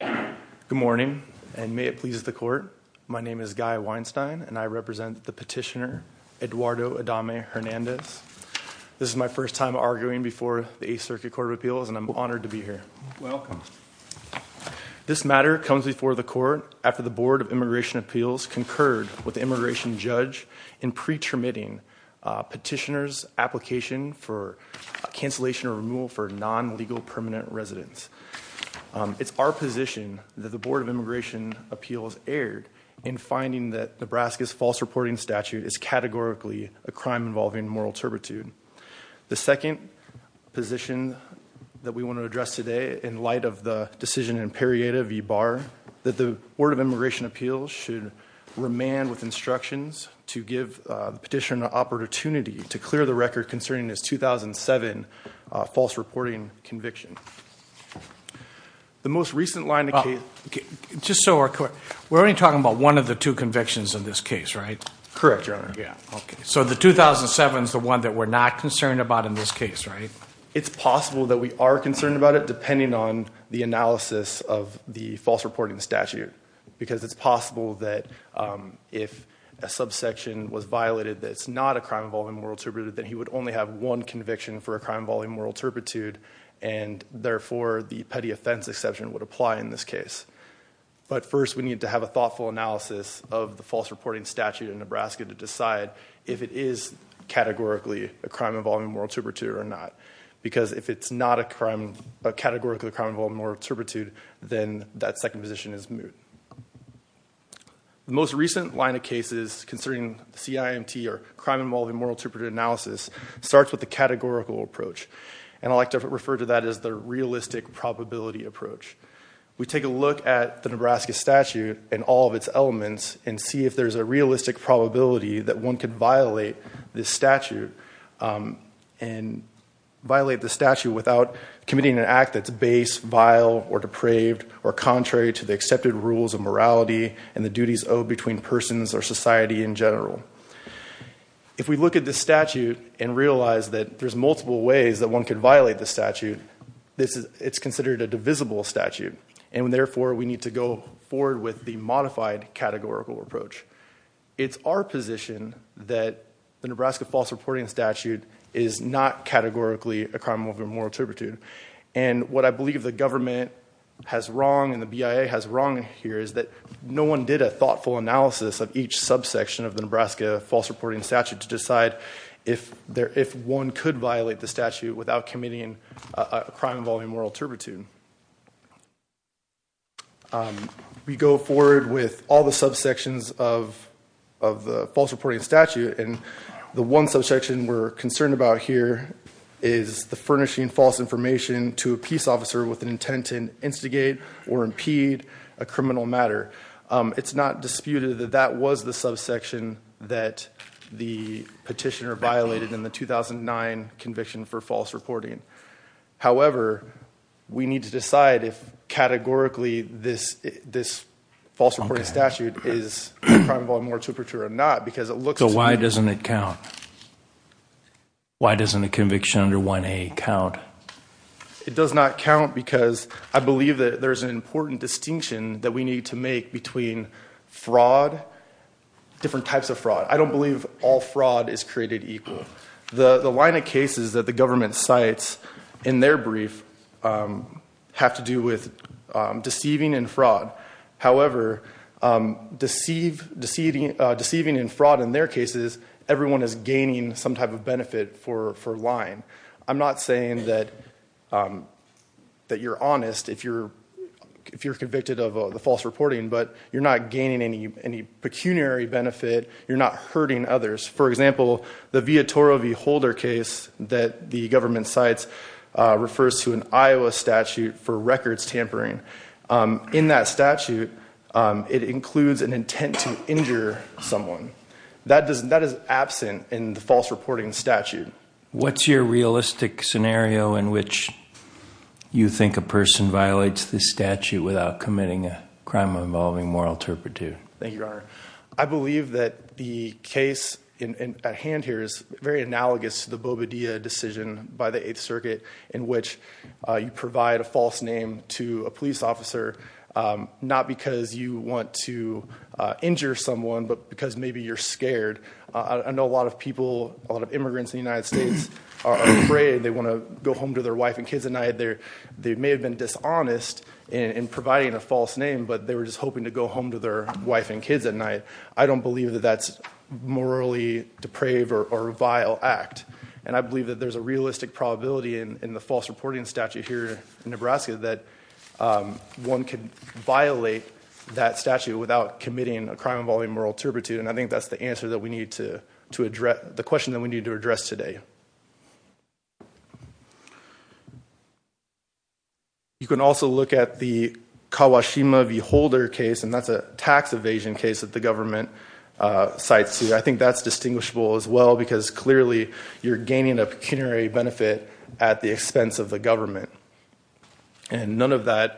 Good morning and may it please the court. My name is Guy Weinstein and I represent the petitioner Eduardo Adame-Hernandez. This is my first time arguing before the Eighth Circuit Court of Appeals and I'm honored to be here. Welcome. This matter comes before the court after the Board of Immigration Appeals concurred with the immigration judge in pre-termitting petitioner's application for cancellation or removal for non-legal permanent residents. It's our position that the Board of Immigration Appeals erred in finding that Nebraska's false reporting statute is categorically a crime involving moral turpitude. The second position that we want to address today in light of the decision in Perieta v. Barr that the Board of Immigration Appeals should remand with instructions to give the petitioner an opportunity to clear the record concerning his 2007 false reporting conviction. The most recent line of case... Just so we're clear, we're only talking about one of the two convictions in this case, right? Correct, your honor. Yeah, okay. So the 2007 is the one that we're not concerned about in this case, right? It's possible that we are concerned about it depending on the analysis of the false reporting statute because it's possible that if a subsection was violated that it's not a crime involving moral turpitude, that he would only have one conviction for a crime involving moral turpitude and therefore the petty offense exception would apply in this case. But first we need to have a thoughtful analysis of the false reporting statute in Nebraska to decide if it is categorically a crime involving moral turpitude or not. Because if it's not a crime, a categorical crime involving moral turpitude, then that second position is moot. The most recent line of cases concerning CIMT, or crime involving moral turpitude analysis, starts with the categorical approach. And I like to refer to that as the realistic probability approach. We take a look at the Nebraska statute and all of its elements and see if there's a realistic probability that one could violate this statute and violate the statute without committing an act that's base, vile, or depraved, or contrary to the accepted rules of morality and the duties owed between persons or society in general. If we look at the statute and realize that there's multiple ways that one could violate the statute, it's considered a divisible statute and therefore we need to go forward with the modified categorical approach. It's our position that the Nebraska false reporting statute is not categorically a crime involving moral turpitude. And what I believe the government has wrong and the BIA has wrong here is that no one did a thoughtful analysis of each subsection of the Nebraska false reporting statute to decide if one could violate the statute without committing a crime involving moral turpitude. We go forward with all the subsections of the false reporting statute and the one subsection we're concerned about here is the furnishing false information to a peace officer with an intent to instigate or impede a criminal matter. It's not disputed that that was the subsection that the petitioner violated in the 2009 conviction for false reporting. However, we need to decide if categorically this false reporting statute is a crime involving moral turpitude or not because it looks to me... So why doesn't it count? Why doesn't a conviction under 1A count? It does not count because I believe that there's an important distinction that we need to make between fraud, different types of fraud. I don't believe all fraud is created equal. The line of cases that the government cites in their brief have to do with deceiving and fraud. However, deceiving and fraud in their cases, everyone is gaining some type of benefit for lying. I'm not saying that you're honest if you're convicted of the false reporting, but you're not gaining any pecuniary benefit. You're not hurting others. For example, the Viatoro v. Holder case that the government cites refers to an Iowa statute for records tampering. In that statute, it includes an intent to injure someone. That is absent in the false reporting statute. What's your realistic scenario in which you think a person violates this statute without committing a crime involving moral turpitude? Thank you, Your Honor. I believe that the case at hand here is very analogous to the Bobadilla decision by the 8th Circuit in which you provide a false name to a police officer not because you want to injure someone, but because maybe you're scared. I know a lot of people, a lot of immigrants in the United States are afraid. They want to go home to their wife and kids at night. They may have been dishonest in providing a false name, but they were just hoping to go home to their wife and kids at night. I don't believe that that's morally depraved or a vile act. I believe that there's a realistic probability in the false reporting statute here in Nebraska that one could violate that statute without committing a crime involving moral turpitude. I think that's the question that we need to address today. You can also look at the Kawashima v. Holder case, and that's a tax evasion case that the government cites here. I think that's distinguishable as well because clearly you're gaining a pecuniary benefit at the expense of the government. None of that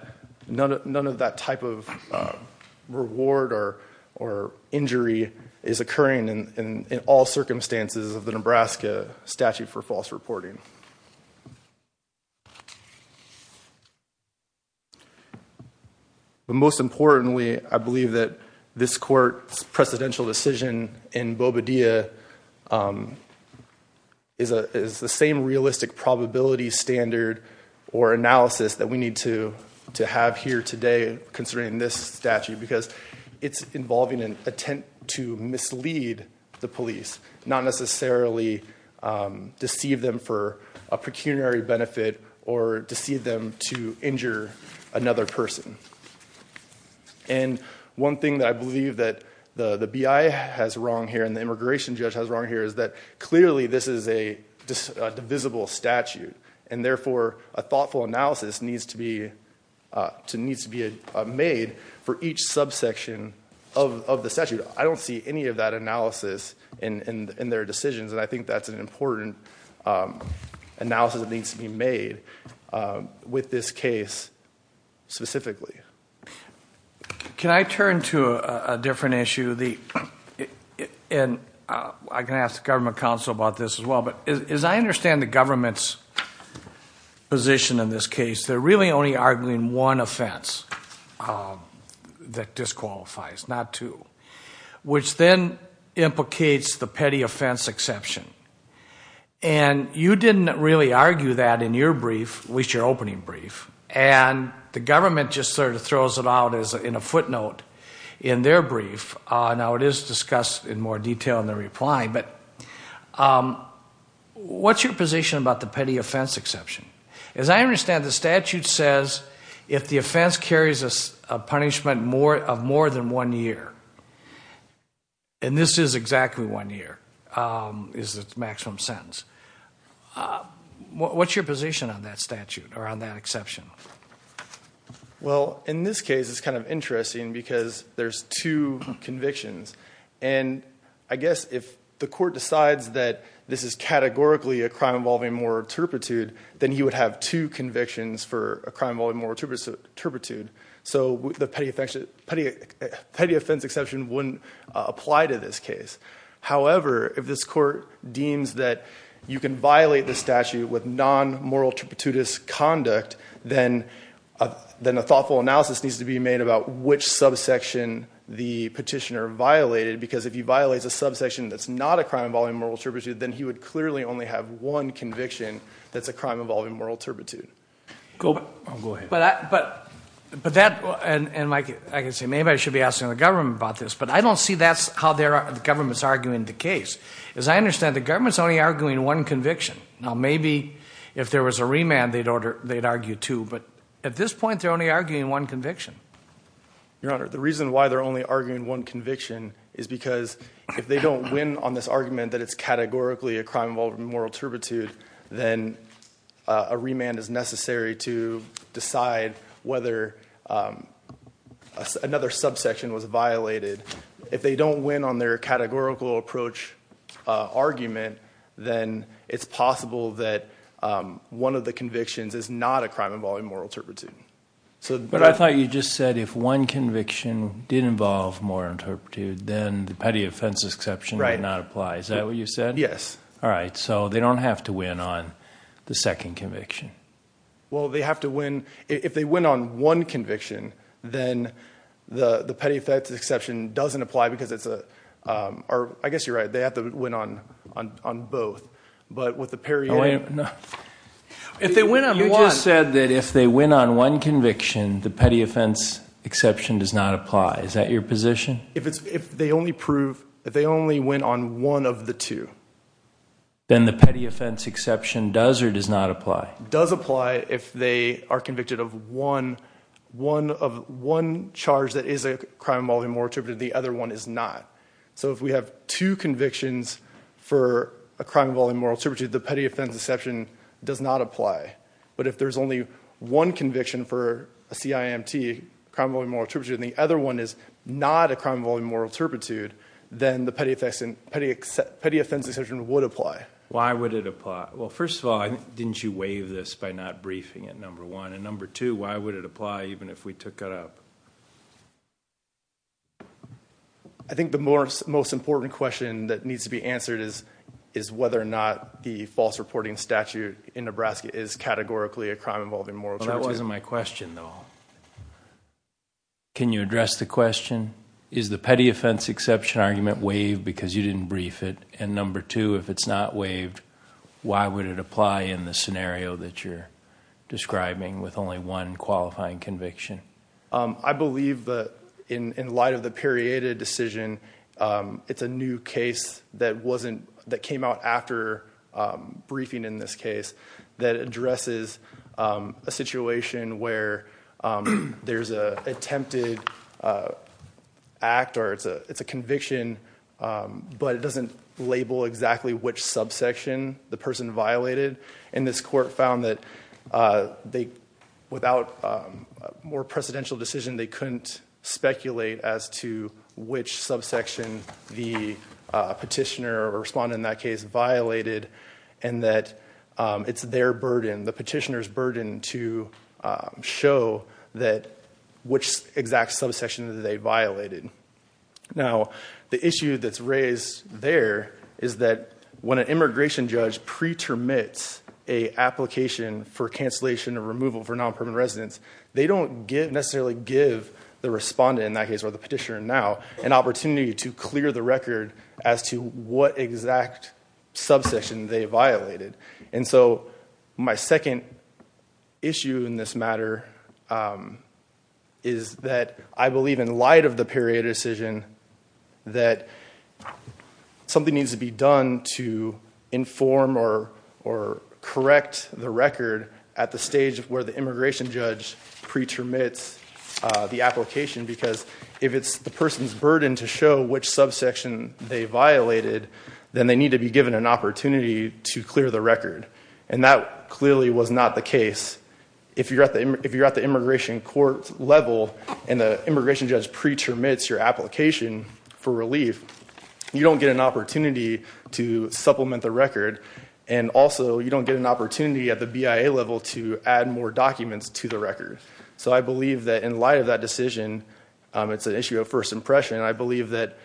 type of reward or injury is occurring in all circumstances of the Nebraska statute for false reporting. Most importantly, I believe that this court's precedential decision in Bobadilla is the same realistic probability standard or analysis that we need to have here today concerning this statute because it's involving an attempt to mislead the police, not necessarily deceive them for a pecuniary benefit or deceive them to injure another person. One thing that I believe that the BI has wrong here and the immigration judge has wrong here is that clearly this is a divisible statute, and therefore a thoughtful analysis needs to be made for each subsection of the statute. I don't see any of that analysis in their decisions, and I think that's an important analysis that needs to be made with this case specifically. Can I turn to a different issue? I can ask the government counsel about this as well, but as I understand the government's position in this case, they're really only arguing one offense that disqualifies, not two, which then implicates the petty offense exception. You didn't really argue that in your brief, at least your opening brief, and the government just sort of throws it out in a footnote in their brief. Now, it is discussed in more detail. What's your position about the petty offense exception? As I understand, the statute says if the offense carries a punishment of more than one year, and this is exactly one year is the maximum sentence. What's your position on that statute or on that exception? In this case, it's kind of interesting because there's two convictions, and I guess if the statute categorically a crime involving moral turpitude, then he would have two convictions for a crime involving moral turpitude, so the petty offense exception wouldn't apply to this case. However, if this court deems that you can violate the statute with non-moral turpitude conduct, then a thoughtful analysis needs to be made about which subsection the petitioner violated, because if he violates a subsection that's not a crime involving moral turpitude, then he would clearly only have one conviction that's a crime involving moral turpitude. Go ahead. But that, and like I say, maybe I should be asking the government about this, but I don't see that's how the government's arguing the case. As I understand, the government's only arguing one conviction. Now, maybe if there was a remand, they'd argue two, but at this point, they're only arguing one conviction. Your Honor, the reason why they're only arguing one conviction is because if they don't win on this argument that it's categorically a crime involving moral turpitude, then a remand is necessary to decide whether another subsection was violated. If they don't win on their categorical approach argument, then it's possible that one of the convictions is not a crime involving moral turpitude. But I thought you just said if one conviction did involve moral turpitude, then the petty offense exception would not apply. Is that what you said? Yes. All right, so they don't have to win on the second conviction. Well, they have to win, if they win on one conviction, then the petty offense exception doesn't apply because it's a, I guess you're right, they have to win on both. But with the periodic... If they win on one... You just said that if they win on one conviction, the petty offense exception does not apply. Is that your position? If they only win on one of the two. Then the petty offense exception does or does not apply? Does apply if they are convicted of one charge that is a crime involving moral turpitude, the other one is not. So if we have two convictions for a crime involving moral turpitude, the petty offense exception does not apply. But if there's only one conviction for a CIMT, and the other one is not a crime involving moral turpitude, then the petty offense exception would apply. Why would it apply? Well, first of all, didn't you waive this by not briefing it, number one? And number two, why would it apply even if we took it up? I think the most important question that needs to be answered is whether or not the false reporting statute in Nebraska is categorically a crime involving moral turpitude. That wasn't my question, though. Can you address the question? Is the petty offense exception argument waived because you didn't brief it? And number two, if it's not waived, why would it apply in the scenario that you're describing with only one qualifying conviction? I believe that in light of the periodic decision, it's a new case that came out after briefing in this case that addresses a situation where there's an attempted act, or it's a conviction, but it doesn't label exactly which subsection the person violated. And this court found that without a more precedential decision, they couldn't speculate as to which subsection the petitioner or respondent in that case violated, and that it's their burden, the petitioner's burden, to show which exact subsection they violated. Now the issue that's raised there is that when an immigration judge pre-termits an application for cancellation or removal for non-permanent residents, they don't necessarily give the clear the record as to what exact subsection they violated. And so my second issue in this matter is that I believe in light of the period decision that something needs to be done to inform or correct the record at the stage where the immigration judge pre-termits the subsection they violated, then they need to be given an opportunity to clear the record. And that clearly was not the case. If you're at the immigration court level and the immigration judge pre-termits your application for relief, you don't get an opportunity to supplement the record, and also you don't get an opportunity at the BIA level to add more documents to the record. So I believe that in light of that decision, it's an issue of first impression, and I believe that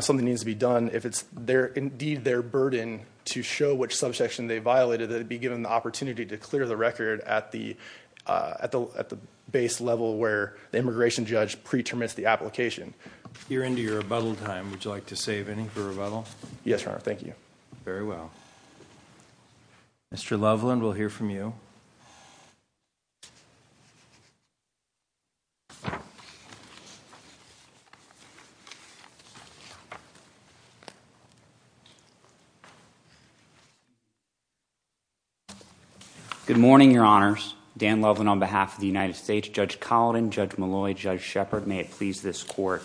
something needs to be done. If it's indeed their burden to show which subsection they violated, they'd be given the opportunity to clear the record at the base level where the immigration judge pre-termits the application. You're into your rebuttal time. Would you like to save any for rebuttal? Yes, Your Honor. Thank you. Very well. Mr. Loveland, we'll hear from you. Good morning, Your Honors. Dan Loveland on behalf of the United States. Judge Collin, Judge Molloy, Judge Shepard, may it please this court.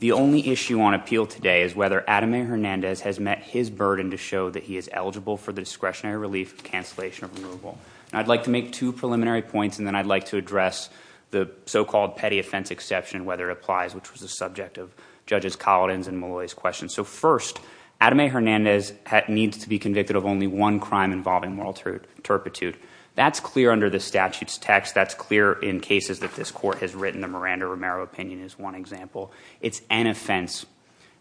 The only issue on appeal today is whether Adam A. Hernandez has met his burden to show that he is eligible for the discretionary relief cancellation of removal. And I'd like to make two preliminary points, and then I'd like to address the so-called petty offense exception, whether it applies, which was the of Judges Collin's and Molloy's questions. So first, Adam A. Hernandez needs to be convicted of only one crime involving moral turpitude. That's clear under the statute's text. That's clear in cases that this court has written. The Miranda-Romero opinion is one example. It's an offense.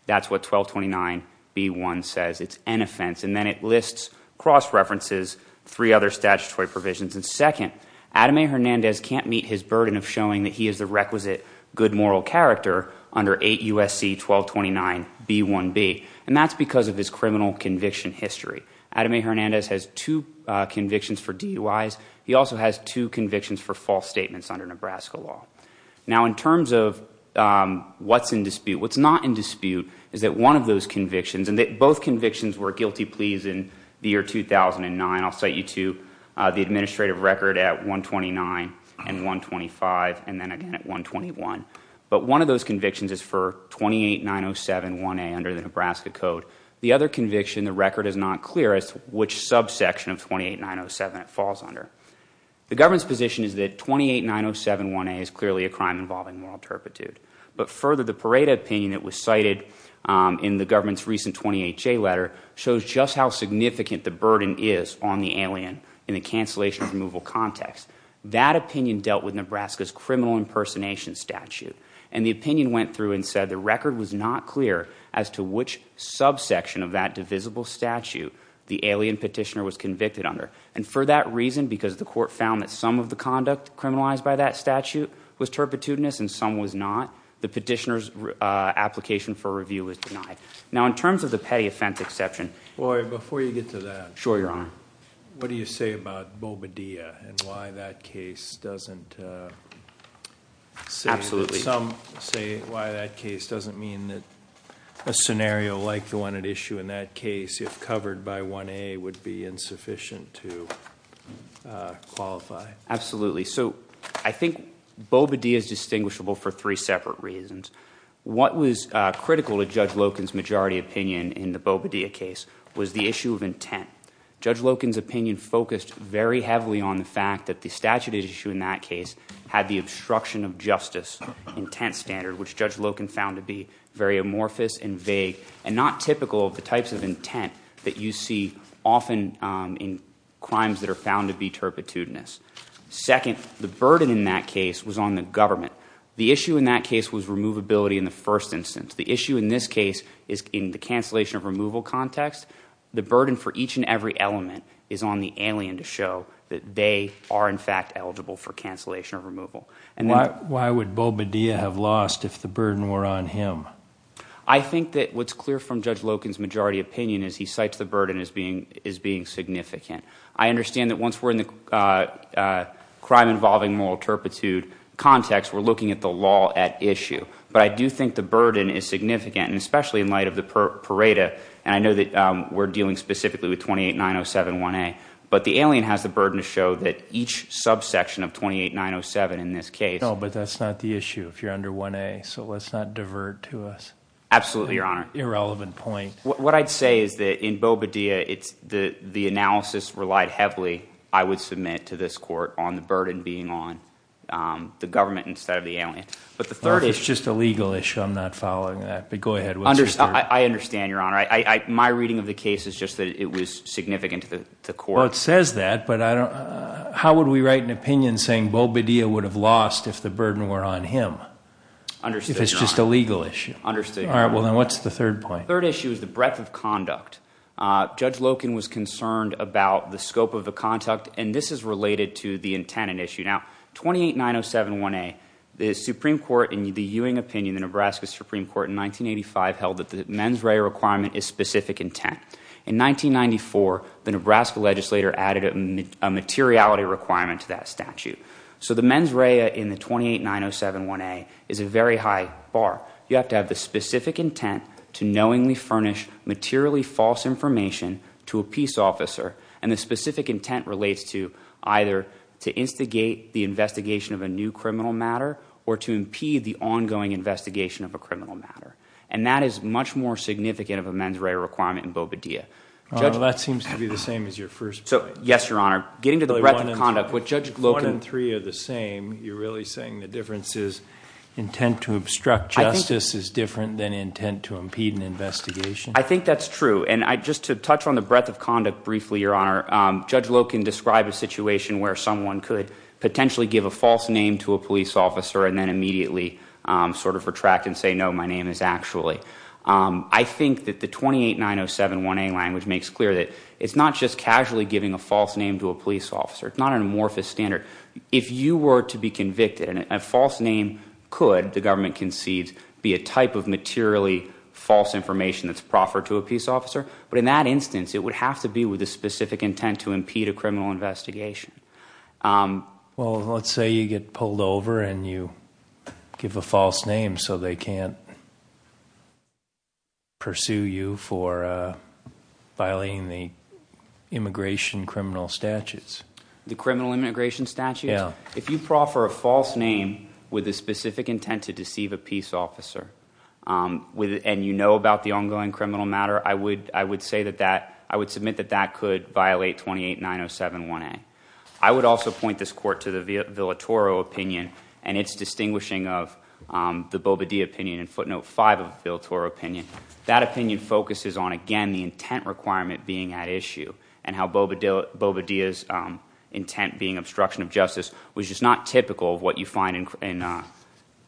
That's what 1229B1 says. It's an offense. And then it lists, cross-references, three other statutory provisions. And second, Adam A. Hernandez can't meet his burden of that he is the requisite good moral character under 8 U.S.C. 1229B1B. And that's because of his criminal conviction history. Adam A. Hernandez has two convictions for DUIs. He also has two convictions for false statements under Nebraska law. Now, in terms of what's in dispute, what's not in dispute is that one of those convictions, and both convictions were guilty pleas in the year 2009. I'll cite you to the administrative record at 129 and 125 and then again at 121. But one of those convictions is for 289071A under the Nebraska Code. The other conviction, the record is not clear as to which subsection of 28907 it falls under. The government's position is that 289071A is clearly a crime involving moral turpitude. But further, the Pareto opinion that was cited in the government's recent 28J letter shows just how significant the burden is on the alien in the cancellation removal context. That opinion dealt with Nebraska's criminal impersonation statute. And the opinion went through and said the record was not clear as to which subsection of that divisible statute the alien petitioner was convicted under. And for that reason, because the court found that some of the conduct criminalized by that statute was turpitudinous and some was not, the petitioner's application for review was denied. Now, in terms of the petty offense exception. Well, before you get to that, what do you say about Bobadilla and why that case doesn't... Absolutely. Some say why that case doesn't mean that a scenario like the one at issue in that case if covered by 1A would be insufficient to qualify. Absolutely. So I think Bobadilla is distinguishable for three separate reasons. What was critical to Judge Loken's majority opinion in the Bobadilla case was the issue of intent. Judge Loken's opinion focused very heavily on the fact that the statute at issue in that case had the obstruction of justice intent standard, which Judge Loken found to be very amorphous and vague and not typical of the types of intent that you see often in crimes that are found to be turpitudinous. Second, the burden in that case was on the government. The issue in that case was removability in the first instance. The issue in this case is in the cancellation of removal context. The burden for each and every element is on the alien to show that they are in fact eligible for cancellation of removal. Why would Bobadilla have lost if the burden were on him? I think that what's clear from Judge Loken's majority opinion is he cites the burden as being significant. I understand that once we're in the crime involving moral turpitude context, we're looking at the law at issue. I do think the burden is significant, especially in light of the Pareto. I know that we're dealing specifically with 28907 1A, but the alien has the burden to show that each subsection of 28907 in this case... No, but that's not the issue if you're under 1A, so let's not divert to us... Absolutely, Your Honor.... irrelevant point. What I'd say is that in Bobadilla, the analysis relied heavily, I would submit to this court, on the burden being on the government instead of the alien. But the third issue... It's just a legal issue. I'm not following that, but go ahead. I understand, Your Honor. My reading of the case is just that it was significant to the court. Well, it says that, but how would we write an opinion saying Bobadilla would have lost if the burden were on him if it's just a legal issue? Understood, Your Honor. All right, well, then what's the third point? The third issue is the breadth of conduct. Judge Loken was concerned about the scope of the conduct, and this is related to the intent and issue. Now, 28907 1A, the Supreme Court, in the Ewing opinion, the Nebraska Supreme Court, in 1985 held that the mens rea requirement is specific intent. In 1994, the Nebraska legislator added a materiality requirement to that statute. So the mens rea in the 28907 1A is a very high bar. You have to have the specific intent to knowingly furnish materially false information to a police officer. And the specific intent relates to either to instigate the investigation of a new criminal matter or to impede the ongoing investigation of a criminal matter. And that is much more significant of a mens rea requirement in Bobadilla. That seems to be the same as your first point. So, yes, Your Honor. Getting to the breadth of conduct, what Judge Loken— One and three are the same. You're really saying the difference is intent to obstruct justice is different than intent to impede an investigation? I think that's true. And just to touch on the breadth of conduct briefly, Your Honor, Judge Loken described a situation where someone could potentially give a false name to a police officer and then immediately sort of retract and say, no, my name is actually— I think that the 28907 1A language makes clear that it's not just casually giving a false name to a police officer. It's not an amorphous standard. If you were to be convicted, a false name could, the government concedes, be a type of materially false information that's proffered to a police officer. But in that instance, it would have to be with a specific intent to impede a criminal investigation. Well, let's say you get pulled over and you give a false name so they can't pursue you for violating the immigration criminal statutes. The criminal immigration statutes? Yeah. If you proffer a false name with a specific intent to deceive a peace officer and you know about the ongoing criminal matter, I would say that that—I would submit that that could violate 28907 1A. I would also point this court to the Villatoro opinion and its distinguishing of the Bobadilla opinion and footnote 5 of the Villatoro opinion. That opinion focuses on, again, the intent requirement being at issue and how Bobadilla's intent being obstruction of justice, which is not typical of what you find in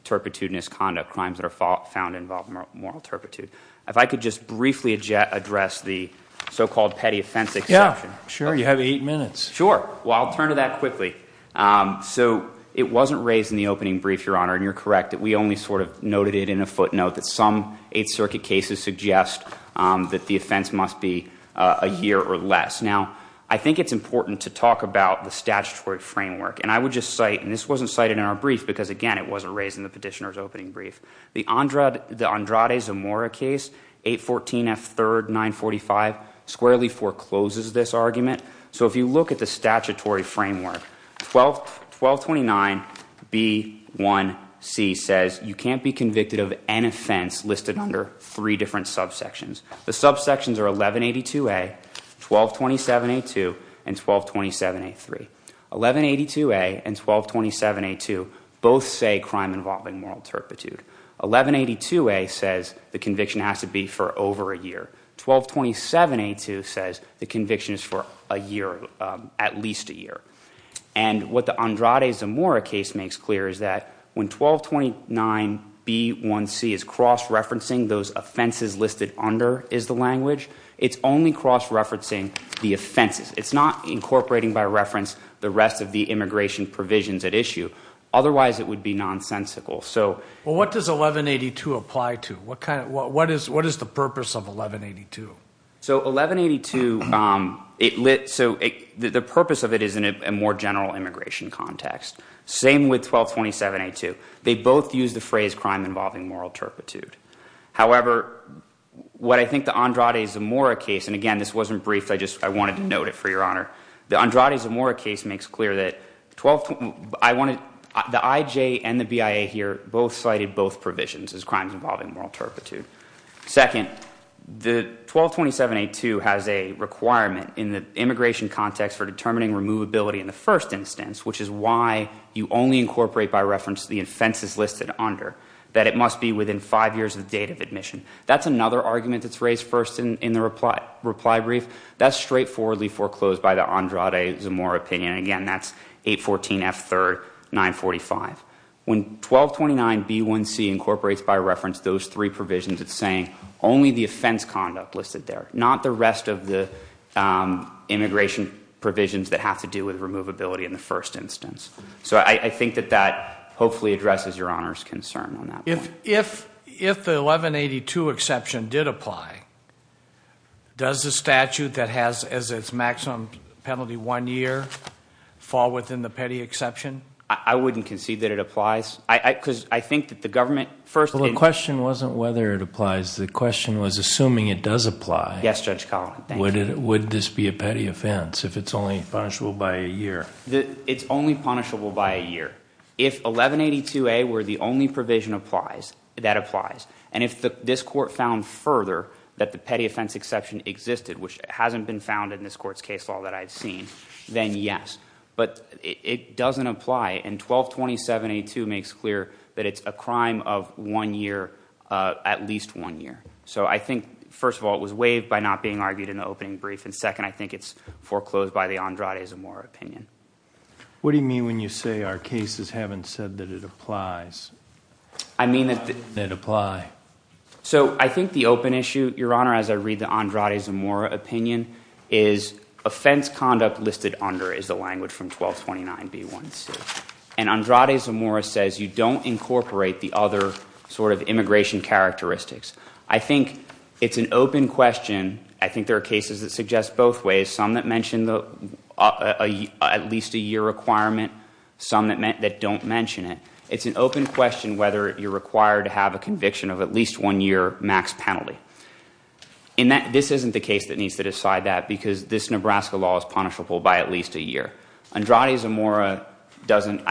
turpitudinous conduct, crimes that are found to involve moral turpitude. If I could just briefly address the so-called petty offense exception. Yeah. Sure. You have eight minutes. Sure. Well, I'll turn to that quickly. So it wasn't raised in the opening brief, Your Honor, and you're correct that we only sort of noted it in a footnote that some Eighth Circuit cases suggest that the offense must be a year or less. Now, I think it's important to talk about the statutory framework, and I would just cite—and this wasn't cited in our brief because, again, it wasn't raised in the petitioner's opening brief—the Andrade Zamora case, 814 F. 3rd 945, squarely forecloses this argument. So if you look at the statutory framework, 1229 B. 1c says you can't be convicted of an offense listed under three different subsections. The subsections are 1182 A, 1227 A. 2, and 1227 A. 3. 1182 A and 1227 A. 2 both say crime involving moral turpitude. 1182 A says the conviction has to be for over a year. 1227 A. 2 says the conviction is for a year, at least a year. And what the Andrade Zamora case makes clear is that when 1229 B. 1c is cross-referencing those offenses listed under is the language, it's only cross-referencing the offenses. It's not incorporating by reference the rest of the immigration provisions at issue. Otherwise, it would be nonsensical. Well, what does 1182 apply to? What is the purpose of 1182? So 1182, the purpose of it is in a more general immigration context. Same with 1227 A. 2. They both use the phrase crime involving moral turpitude. However, what I think the Andrade Zamora case, and again, this wasn't brief, I just wanted to note it for your honor. The Andrade Zamora case makes clear that the IJ and the BIA here both cited both provisions as crimes involving moral turpitude. Second, the 1227 A. 2 has a requirement in the immigration context for determining removability in the first instance, which is why you only incorporate by reference the offenses listed under, that it must be within five years of date of admission. That's another argument that's raised first in the reply brief. That's straightforwardly foreclosed by the Andrade Zamora opinion, and again, that's 814 F. 3rd, 945. When 1229 B1C incorporates by reference those three provisions, it's saying only the offense conduct listed there. Not the rest of the immigration provisions that have to do with removability in the first instance. So I think that that hopefully addresses your honor's concern on that point. If the 1182 exception did apply, does the statute that has as its maximum penalty one year fall within the petty exception? I wouldn't concede that it applies, because I think that the government first- Well, the question wasn't whether it applies, the question was assuming it does apply. Yes, Judge Collin, thank you. Would this be a petty offense if it's only punishable by a year? It's only punishable by a year. If 1182A were the only provision that applies, and if this court found further that the petty offense exception existed, which hasn't been found in this court's case law that I've seen, then yes. But it doesn't apply, and 1227A2 makes clear that it's a crime of one year, at least one year. So I think, first of all, it was waived by not being argued in the opening brief, and second, I think it's foreclosed by the Andrade Zamora opinion. What do you mean when you say our cases haven't said that it applies? I mean that- That apply. So I think the open issue, your honor, as I read the Andrade Zamora opinion, is offense conduct listed under is the language from 1229B1C. And Andrade Zamora says you don't incorporate the other sort of immigration characteristics. I think it's an open question, I think there are cases that suggest both ways. There's some that mention at least a year requirement, some that don't mention it. It's an open question whether you're required to have a conviction of at least one year max penalty. And this isn't the case that needs to decide that, because this Nebraska law is punishable by at least a year. Andrade Zamora doesn't,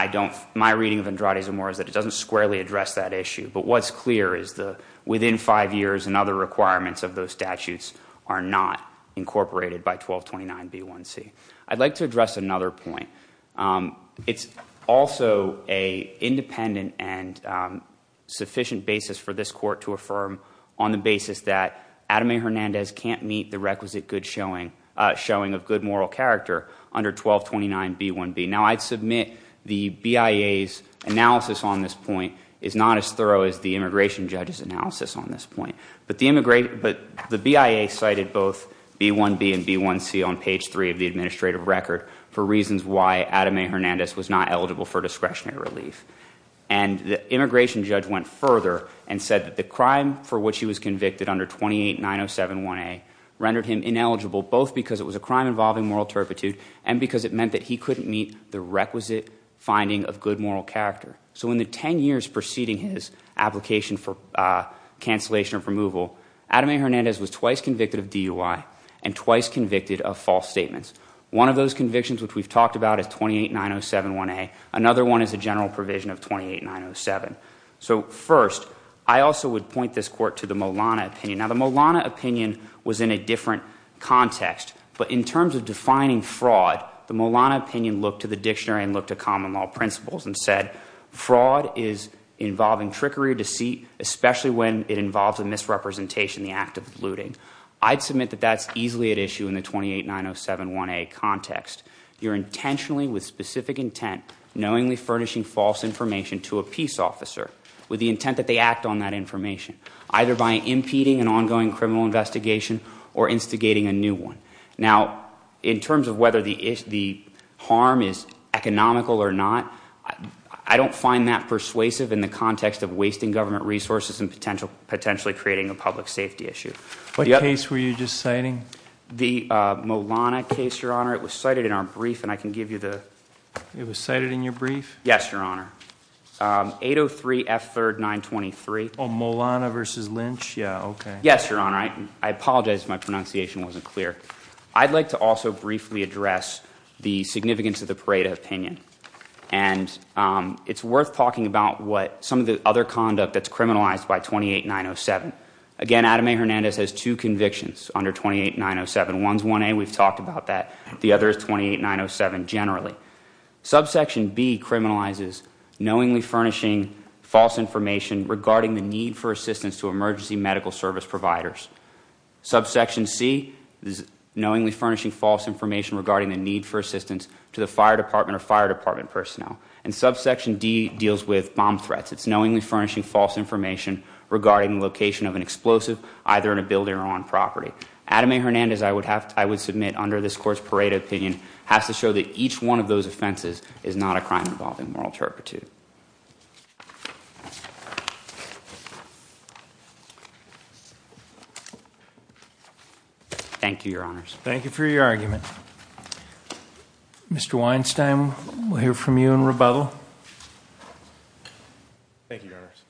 my reading of Andrade Zamora is that it doesn't squarely address that issue. But what's clear is that within five years and other requirements of those statutes are not incorporated by 1229B1C. I'd like to address another point. It's also a independent and sufficient basis for this court to affirm on the basis that Adam A. Hernandez can't meet the requisite good showing of good moral character under 1229B1B. Now I'd submit the BIA's analysis on this point is not as thorough as the immigration judge's analysis on this point. But the BIA cited both B1B and B1C on page three of the administrative record for reasons why Adam A. Hernandez was not eligible for discretionary relief. And the immigration judge went further and said that the crime for which he was convicted under 289071A rendered him ineligible both because it was a crime involving moral turpitude. And because it meant that he couldn't meet the requisite finding of good moral character. So in the ten years preceding his application for cancellation of removal, Adam A. Hernandez was twice convicted of DUI and twice convicted of false statements. One of those convictions which we've talked about is 289071A, another one is a general provision of 28907. So first, I also would point this court to the Molana opinion. Now the Molana opinion was in a different context. But in terms of defining fraud, the Molana opinion looked to the dictionary and looked to common law principles and said fraud is involving trickery, deceit, especially when it involves a misrepresentation, the act of looting. I'd submit that that's easily at issue in the 289071A context. You're intentionally, with specific intent, knowingly furnishing false information to a peace officer with the intent that they act on that information. Either by impeding an ongoing criminal investigation or instigating a new one. Now, in terms of whether the harm is economical or not, I don't find that persuasive in the context of wasting government resources and potentially creating a public safety issue. What case were you just citing? The Molana case, your honor. It was cited in our brief, and I can give you the- It was cited in your brief? Yes, your honor. 803 F3rd 923. Molana versus Lynch? Yeah, okay. Yes, your honor. I apologize if my pronunciation wasn't clear. I'd like to also briefly address the significance of the Pareto opinion. And it's worth talking about what some of the other conduct that's criminalized by 28907. Again, Adam A Hernandez has two convictions under 28907. One's 1A, we've talked about that. The other is 28907 generally. Subsection B criminalizes knowingly furnishing false information regarding the need for assistance to emergency medical service providers. Subsection C is knowingly furnishing false information regarding the need for assistance to the fire department or fire department personnel. And subsection D deals with bomb threats. It's knowingly furnishing false information regarding the location of an explosive, either in a building or on property. Adam A Hernandez, I would submit under this court's Pareto opinion, has to show that each one of those offenses is not a crime involving moral turpitude. Thank you, your honors. Thank you for your argument. Mr. Weinstein, we'll hear from you in rebuttal. Thank you, your honors.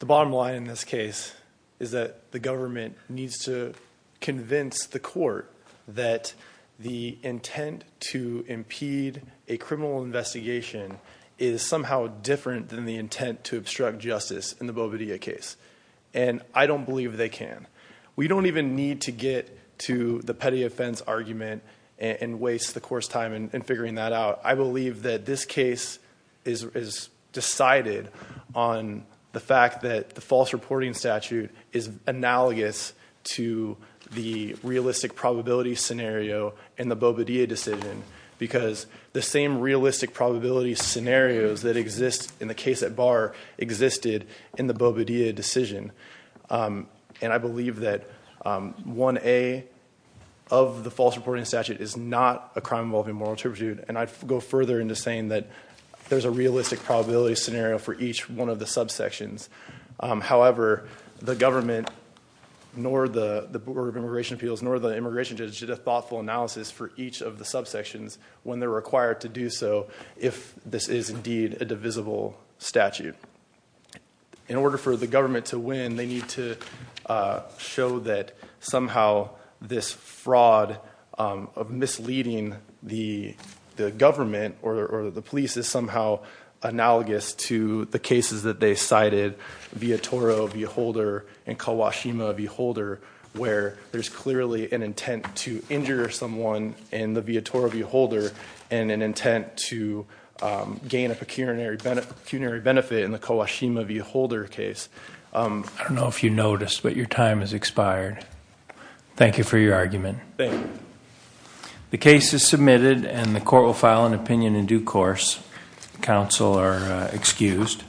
The bottom line in this case is that the government needs to convince the court that the intent to impede a criminal investigation is somehow different than the intent to obstruct justice in the Boveda case. And I don't believe they can. We don't even need to get to the petty offense argument and waste the court's time in figuring that out. I believe that this case is decided on the fact that the false reporting statute is analogous to the realistic probability scenario in the Boveda decision. Because the same realistic probability scenarios that exist in the case at bar existed in the Boveda decision. And I believe that 1A of the false reporting statute is not a crime involving moral turpitude. And I'd go further into saying that there's a realistic probability scenario for each one of the subsections. However, the government, nor the Board of Immigration Appeals, nor the immigration judge did a thoughtful analysis for each of the subsections when they're required to do so. If this is indeed a divisible statute. In order for the government to win, they need to show that somehow this fraud of misleading the government or the police is somehow analogous to the cases that they cited, Viatoro-Beholder and Kawashima-Beholder, where there's clearly an intent to injure someone in the Viatoro-Beholder. And an intent to gain a pecuniary benefit in the Kawashima-Beholder case. I don't know if you noticed, but your time has expired. Thank you for your argument. Thank you. The case is submitted and the court will file an opinion in due course. Counsel are excused.